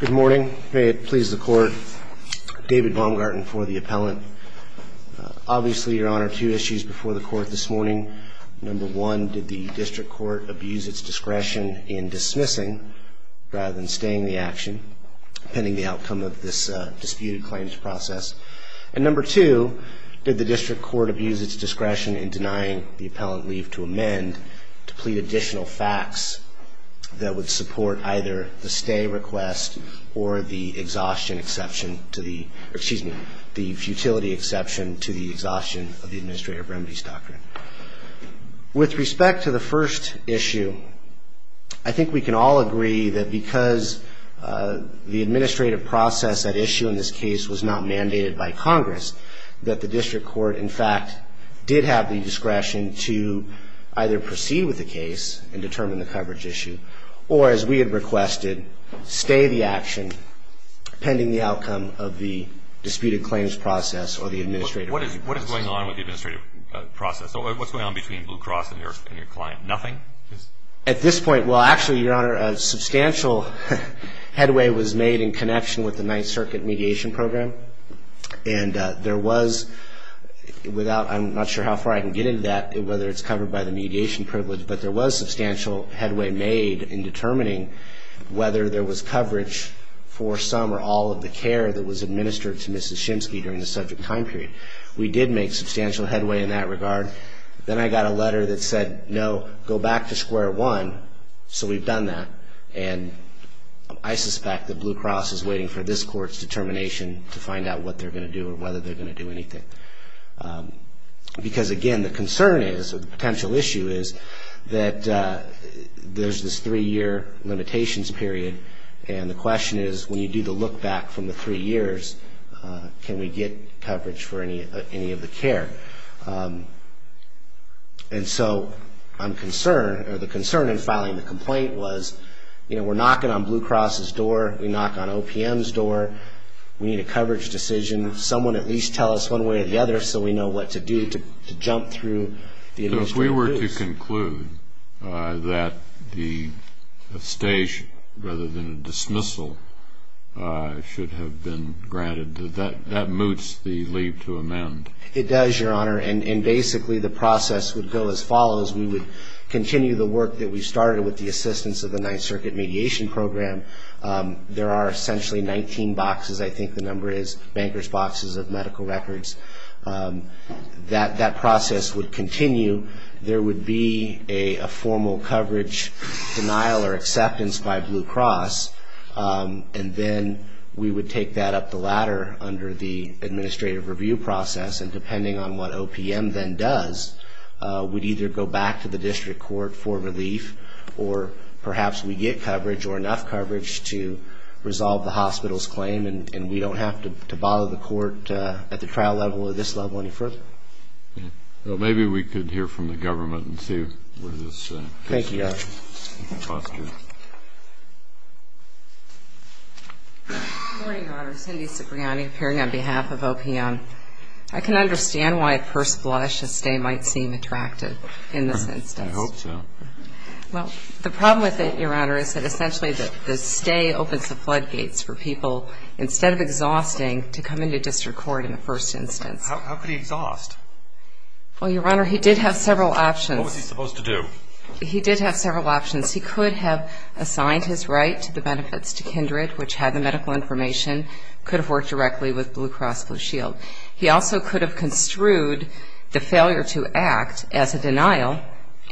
Good morning. May it please the Court, David Baumgarten for the Appellant. Obviously, Your Honor, two issues before the Court this morning. Number one, did the District Court abuse its discretion in dismissing rather than staying the action, pending the outcome of this disputed claims process? And number two, did the District Court abuse its discretion in denying the Appellant leave to amend to plead additional facts that would support either the stay request or the exhaustion exception to the excuse me, the futility exception to the exhaustion of the Administrative Remedies Doctrine. With respect to the first issue, I think we can all agree that because the administrative process at issue in this case was not mandated by Congress, that the District Court, in fact, did have the discretion to either proceed with the case and determine the coverage issue, or as we had requested, stay the action, pending the outcome of the disputed claims process or the administrative process. What is going on with the administrative process? What's going on between Blue Cross and your client? Nothing? At this point, well, actually, Your Honor, a substantial headway was made in connection with the Ninth Circuit Mediation Program. And there was, without, I'm not sure how far I can get into that, whether it's covered by the mediation privilege, but there was substantial headway made in determining whether there was coverage for some or all of the care that was administered to Mrs. Shimsky during the subject time period. We did make substantial headway in that regard. Then I got a letter that said, no, go back to square one, so we've done that. And I suspect that Blue Cross is waiting for this Court's determination to find out what they're going to do or whether they're going to do anything. Because, again, the concern is, or the potential issue is, that there's this three-year limitations period. And the question is, when you do the look-back from the three years, can we get coverage for any of the care? And so I'm concerned, or the concern in filing the complaint was, you know, we're knocking on Blue Cross's door, we knock on OPM's door, we need a coverage decision. Someone at least tell us one way or the other so we know what to do to jump through the administration. So if we were to conclude that the stage, rather than a dismissal, should have been granted, does that, that moots the leap to amend? It does, Your Honor. And basically the process would go as follows. We would continue the work that we started with the assistance of the Ninth Circuit Mediation Program. There are essentially 19 boxes, I think the number is, bankers' boxes of medical records. That process would continue. There would be a formal coverage denial or acceptance by Blue Cross. And then we would take that up the ladder under the administrative review process. And depending on what OPM then does, we'd either go back to the district court for relief, or perhaps we get coverage or enough coverage to resolve the hospital's claim and we don't have to bother the court at the trial level or this level any further. Well, maybe we could hear from the government and see where this fits in. Thank you, Your Honor. Good morning, Your Honor. Cindy Cipriani appearing on behalf of OPM. I can understand why, at first blush, a stay might seem attractive in this instance. I hope so. Well, the problem with it, Your Honor, is that essentially the stay opens the floodgates for people, instead of exhausting, to come into district court in the first instance. How could he exhaust? Well, Your Honor, he did have several options. What was he supposed to do? He did have several options. He could have assigned his right to the benefits to Kindred, which had the medical information, could have worked directly with Blue Cross Blue Shield. He also could have construed the failure to act as a denial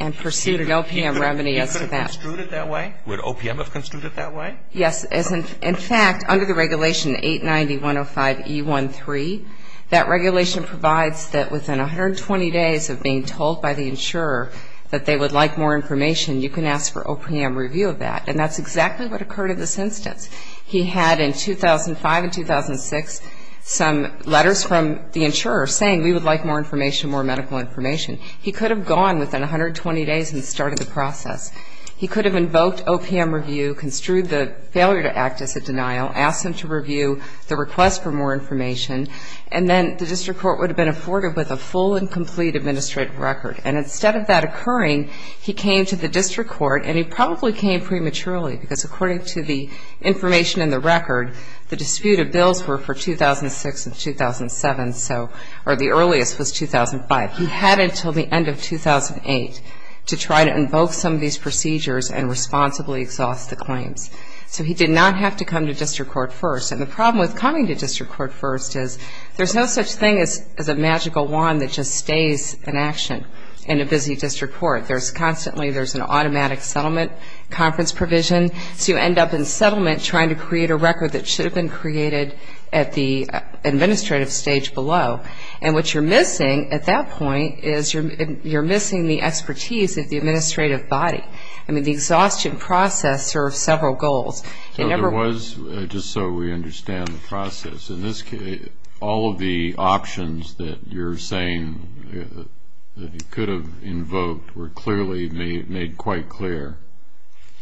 and pursued an OPM remedy as to that. He could have construed it that way? Would OPM have construed it that way? Yes. In fact, under the regulation 890.105.E13, that regulation provides that within 120 days of being told by the insurer that they would like more information, you can ask for OPM review of that. And that's exactly what occurred in this instance. He had in 2005 and 2006 some letters from the insurer saying we would like more information, more medical information. He could have gone within 120 days and started the process. He could have invoked OPM review, construed the failure to act as a denial, asked them to review the request for more information, and then the district court would have been afforded with a full and complete administrative record. And instead of that occurring, he came to the district court, and he probably came prematurely because according to the information in the record, the disputed bills were for 2006 and 2007, or the earliest was 2005. He had until the end of 2008 to try to invoke some of these procedures and responsibly exhaust the claims. So he did not have to come to district court first. And the problem with coming to district court first is there's no such thing as a magical wand that just stays in action in a busy district court. There's constantly an automatic settlement conference provision, so you end up in settlement trying to create a record that should have been created at the administrative stage below. And what you're missing at that point is you're missing the expertise of the administrative body. I mean, the exhaustion process serves several goals. There was, just so we understand the process, in this case, all of the options that you're saying that he could have invoked were clearly made quite clear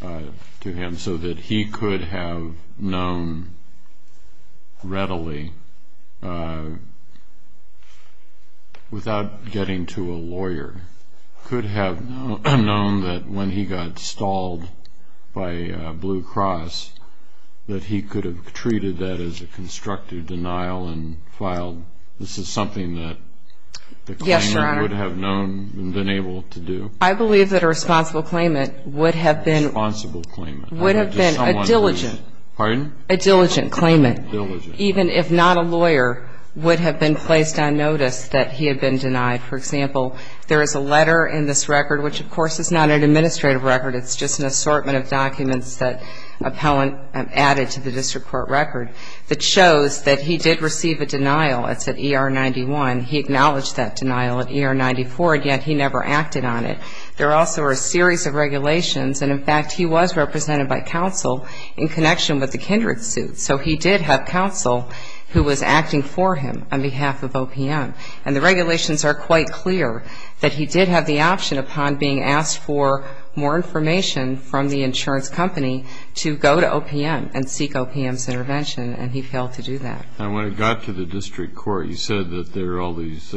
to him so that he could have known readily, without getting to a lawyer, could have known that when he got stalled by Blue Cross, that he could have treated that as a constructive denial and filed. This is something that the claimant would have known and been able to do? I believe that a responsible claimant would have been a diligent claimant, even if not a lawyer, would have been placed on notice that he had been denied. For example, there is a letter in this record, which of course is not an administrative record. It's just an assortment of documents that an appellant added to the district court record that shows that he did receive a denial. It's at ER 91. He acknowledged that denial at ER 94, and yet he never acted on it. There also are a series of regulations. And, in fact, he was represented by counsel in connection with the Kindred suit. So he did have counsel who was acting for him on behalf of OPM. And the regulations are quite clear that he did have the option, upon being asked for more information from the insurance company, to go to OPM and seek OPM's intervention, and he failed to do that. And when it got to the district court, you said that there are all these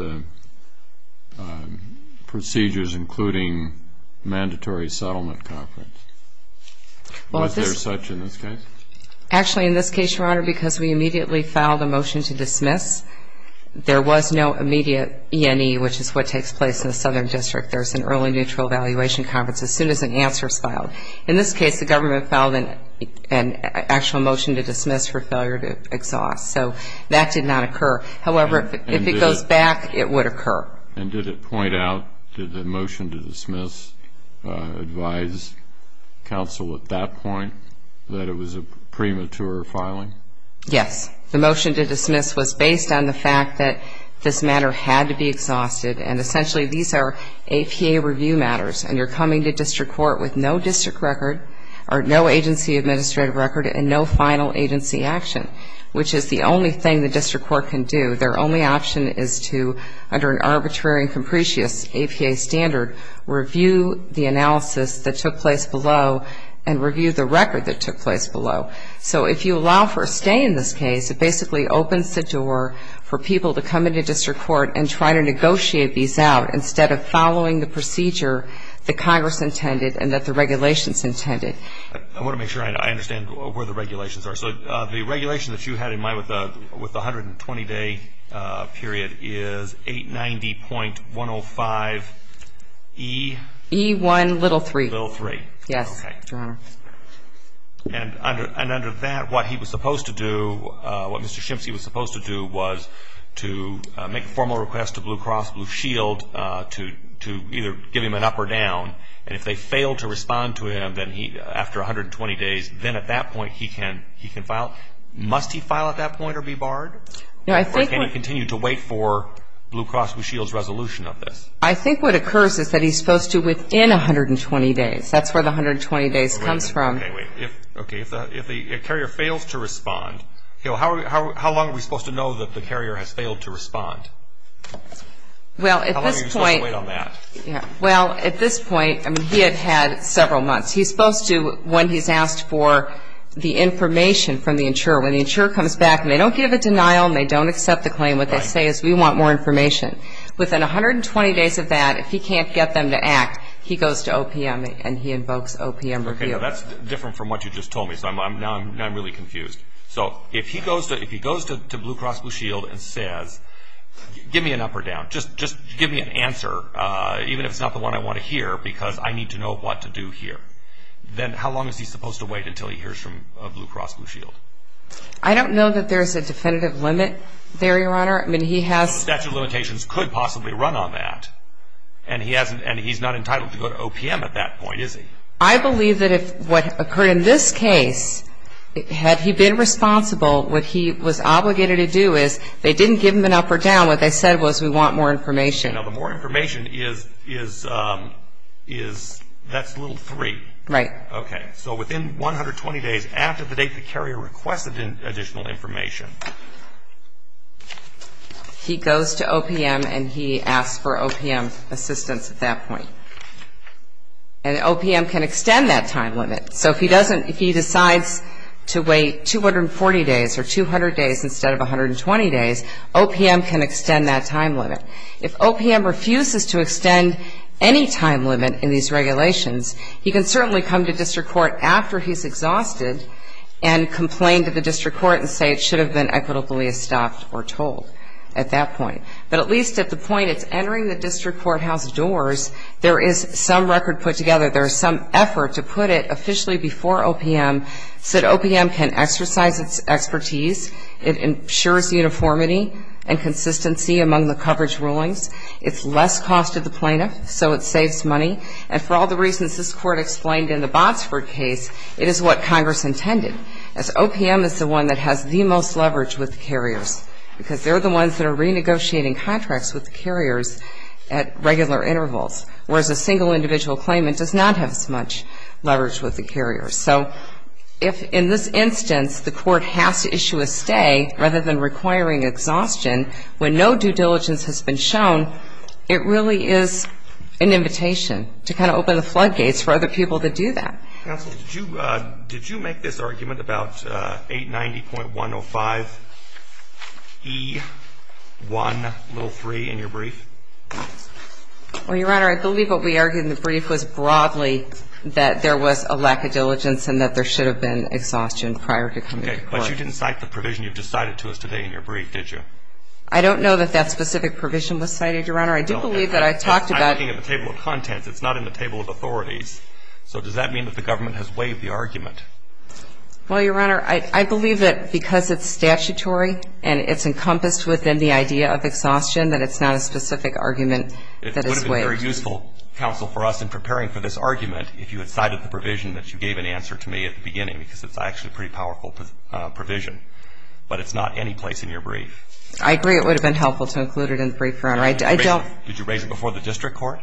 procedures, including mandatory settlement conference. Was there such in this case? Actually, in this case, Your Honor, because we immediately filed a motion to dismiss, there was no immediate E&E, which is what takes place in the Southern District. There's an early neutral evaluation conference as soon as an answer is filed. In this case, the government filed an actual motion to dismiss for failure to exhaust. So that did not occur. However, if it goes back, it would occur. And did it point out, did the motion to dismiss advise counsel at that point that it was a premature filing? Yes. The motion to dismiss was based on the fact that this matter had to be exhausted, and essentially these are APA review matters, and you're coming to district court with no district record, or no agency administrative record, and no final agency action, which is the only thing the district court can do. Their only option is to, under an arbitrary and capricious APA standard, review the analysis that took place below and review the record that took place below. So if you allow for a stay in this case, it basically opens the door for people to come into district court and try to negotiate these out instead of following the procedure that Congress intended and that the regulations intended. I want to make sure I understand where the regulations are. So the regulation that you had in mind with the 120-day period is 890.105E? E1, little 3. Little 3. Yes, Your Honor. Okay. And under that, what he was supposed to do, what Mr. Shimpsey was supposed to do was to make a formal request to Blue Cross Blue Shield to either give him an up or down. And if they failed to respond to him after 120 days, then at that point he can file. Must he file at that point or be barred? Or can he continue to wait for Blue Cross Blue Shield's resolution of this? I think what occurs is that he's supposed to within 120 days. That's where the 120 days comes from. Okay, if the carrier fails to respond, how long are we supposed to know that the carrier has failed to respond? How long are you supposed to wait on that? Well, at this point, he had had several months. He's supposed to, when he's asked for the information from the insurer, when the insurer comes back and they don't give a denial and they don't accept the claim, what they say is we want more information. Within 120 days of that, if he can't get them to act, he goes to OPM and he invokes OPM review. Okay, that's different from what you just told me, so now I'm really confused. So if he goes to Blue Cross Blue Shield and says, give me an up or down, just give me an answer, even if it's not the one I want to hear, because I need to know what to do here, then how long is he supposed to wait until he hears from Blue Cross Blue Shield? I don't know that there's a definitive limit there, Your Honor. No statute of limitations could possibly run on that, and he's not entitled to go to OPM at that point, is he? I believe that if what occurred in this case, had he been responsible, what he was obligated to do is they didn't give him an up or down. What they said was we want more information. Now the more information is, that's little three. Right. Okay, so within 120 days after the date the carrier requested additional information. He goes to OPM and he asks for OPM assistance at that point. And OPM can extend that time limit. So if he decides to wait 240 days or 200 days instead of 120 days, OPM can extend that time limit. If OPM refuses to extend any time limit in these regulations, he can certainly come to district court after he's exhausted and complain to the district court and say it should have been equitably stopped or told at that point. But at least at the point it's entering the district courthouse doors, there is some record put together. There is some effort to put it officially before OPM, so that OPM can exercise its expertise. It ensures uniformity and consistency among the coverage rulings. It's less cost to the plaintiff, so it saves money. And for all the reasons this court explained in the Botsford case, it is what Congress intended, as OPM is the one that has the most leverage with the carriers, because they're the ones that are renegotiating contracts with the carriers at regular intervals, whereas a single individual claimant does not have as much leverage with the carriers. So if in this instance the court has to issue a stay rather than requiring exhaustion when no due diligence has been shown, it really is an invitation to kind of open the floodgates for other people to do that. Counsel, did you make this argument about 890.105E103 in your brief? Well, Your Honor, I believe what we argued in the brief was broadly that there was a lack of diligence and that there should have been exhaustion prior to coming to court. But you didn't cite the provision you've just cited to us today in your brief, did you? I don't know that that specific provision was cited, Your Honor. I do believe that I talked about – I'm looking at the table of contents. It's not in the table of authorities. So does that mean that the government has waived the argument? Well, Your Honor, I believe that because it's statutory and it's encompassed within the idea of exhaustion, that it's not a specific argument that is waived. It would have been very useful, Counsel, for us in preparing for this argument if you had cited the provision that you gave in answer to me at the beginning because it's actually a pretty powerful provision. But it's not any place in your brief. I agree it would have been helpful to include it in the brief, Your Honor. Did you raise it before the district court?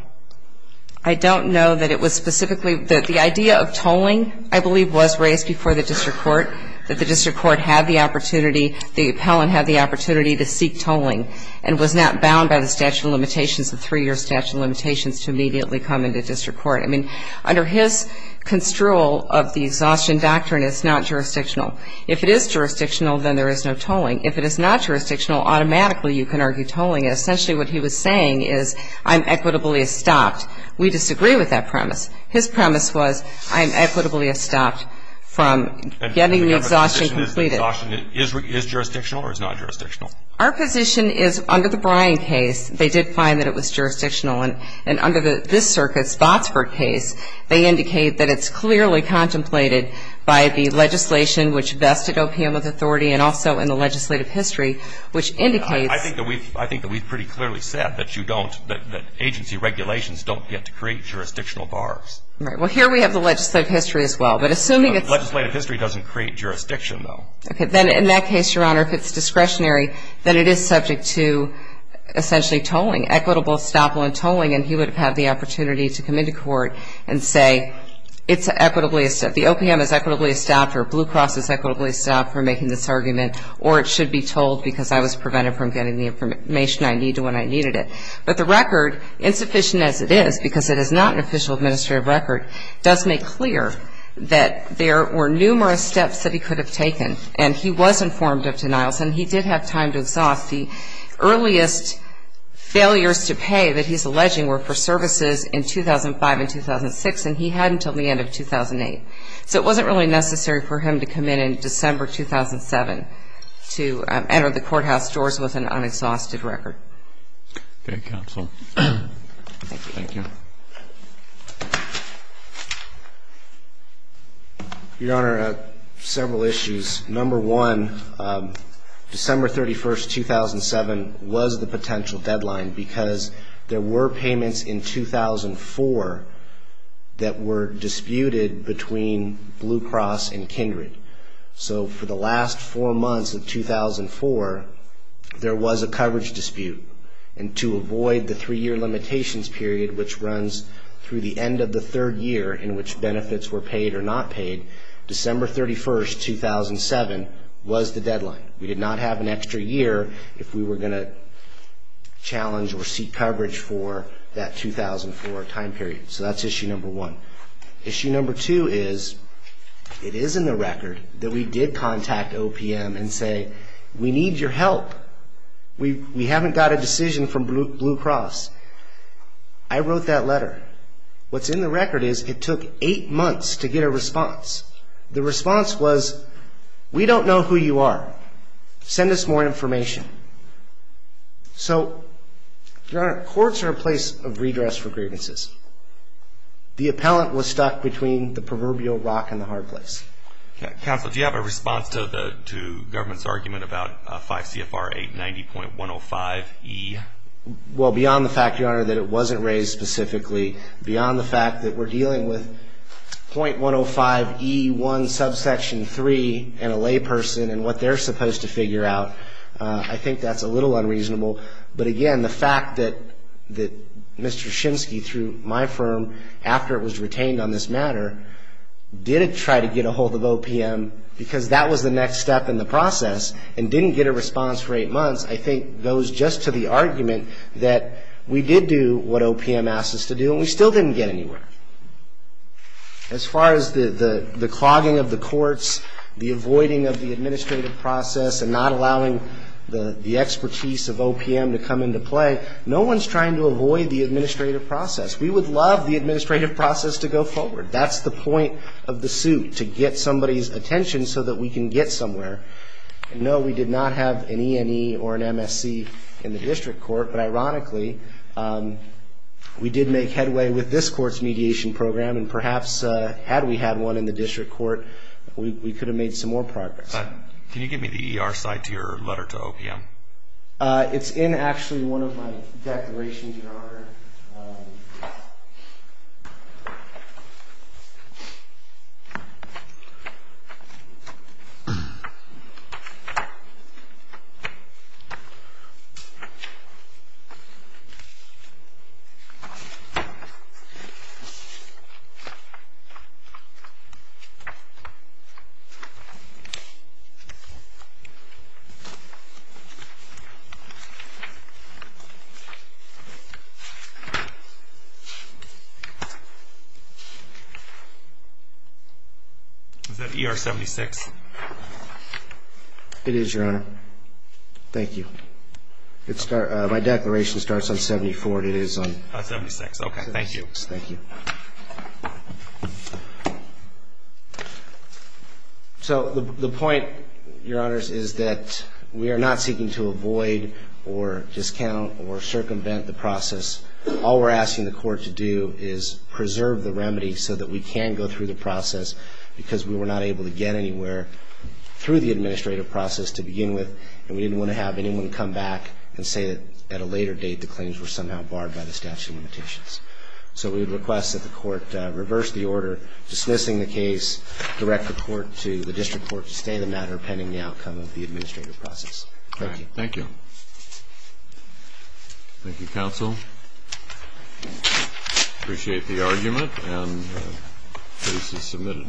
I don't know that it was specifically – that the idea of tolling, I believe, was raised before the district court, that the district court had the opportunity, the appellant had the opportunity to seek tolling and was not bound by the statute of limitations, the three-year statute of limitations to immediately come into district court. I mean, under his construal of the exhaustion doctrine, it's not jurisdictional. If it is jurisdictional, then there is no tolling. If it is not jurisdictional, automatically you can argue tolling. Essentially what he was saying is I'm equitably estopped. We disagree with that premise. His premise was I'm equitably estopped from getting the exhaustion completed. The exhaustion is jurisdictional or it's not jurisdictional? Our position is under the Bryan case, they did find that it was jurisdictional. And under this circuit's Botsford case, they indicate that it's clearly contemplated by the legislation which vested OPM with authority and also in the legislative history, which indicates – I think that we've pretty clearly said that you don't, that agency regulations don't get to create jurisdictional bars. Right. Well, here we have the legislative history as well, but assuming it's – Legislative history doesn't create jurisdiction, though. Okay. Then in that case, Your Honor, if it's discretionary, then it is subject to essentially tolling, equitable estoppel and tolling, and he would have had the opportunity to come into court and say it's equitably – the OPM is equitably estopped or Blue Cross is equitably estopped for making this argument or it should be tolled because I was prevented from getting the information I needed when I needed it. But the record, insufficient as it is, because it is not an official administrative record, does make clear that there were numerous steps that he could have taken, and he was informed of denials and he did have time to exhaust. The earliest failures to pay that he's alleging were for services in 2005 and 2006, and he had until the end of 2008. So it wasn't really necessary for him to come in in December 2007 to enter the courthouse doors with an unexhausted record. Okay. Counsel. Thank you. Thank you. Your Honor, several issues. Number one, December 31st, 2007, was the potential deadline because there were payments in 2004 that were disputed between Blue Cross and Kindred. So for the last four months of 2004, there was a coverage dispute, and to avoid the three-year limitations period, which runs through the end of the third year in which benefits were paid or not paid, December 31st, 2007, was the deadline. We did not have an extra year if we were going to challenge or seek coverage for that 2004 time period. So that's issue number one. Issue number two is it is in the record that we did contact OPM and say, we need your help. We haven't got a decision from Blue Cross. I wrote that letter. What's in the record is it took eight months to get a response. The response was, we don't know who you are. Send us more information. So, Your Honor, courts are a place of redress for grievances. The appellant was stuck between the proverbial rock and the hard place. Counsel, do you have a response to the government's argument about 5 CFR 890.105E? Well, beyond the fact, Your Honor, that it wasn't raised specifically, beyond the fact that we're dealing with .105E1 subsection 3 and a layperson and what they're supposed to figure out, I think that's a little unreasonable. But, again, the fact that Mr. Shimsky, through my firm, after it was retained on this matter, did try to get ahold of OPM because that was the next step in the process and didn't get a response for eight months, I think goes just to the argument that we did do what OPM asked us to do and we still didn't get anywhere. As far as the clogging of the courts, the avoiding of the administrative process and not allowing the expertise of OPM to come into play, no one's trying to avoid the administrative process. We would love the administrative process to go forward. That's the point of the suit, to get somebody's attention so that we can get somewhere. No, we did not have an E&E or an MSC in the district court, but, ironically, we did make headway with this court's mediation program and, perhaps, had we had one in the district court, we could have made some more progress. Can you give me the ER side to your letter to OPM? It's in, actually, one of my declarations in order. Okay. It is, Your Honor. Thank you. My declaration starts on 74 and it is on 76. Okay, thank you. Thank you. So the point, Your Honors, is that we are not seeking to avoid or discount or circumvent the process. All we're asking the court to do is preserve the remedy so that we can go through the process because we were not able to get anywhere through the administrative process to begin with and we didn't want to have anyone come back and say that, at a later date, the claims were somehow barred by the statute of limitations. So we would request that the court reverse the order dismissing the case, direct the court to the district court to stay the matter pending the outcome of the administrative process. Thank you. Thank you. Thank you, counsel. Appreciate the argument, and the case is submitted.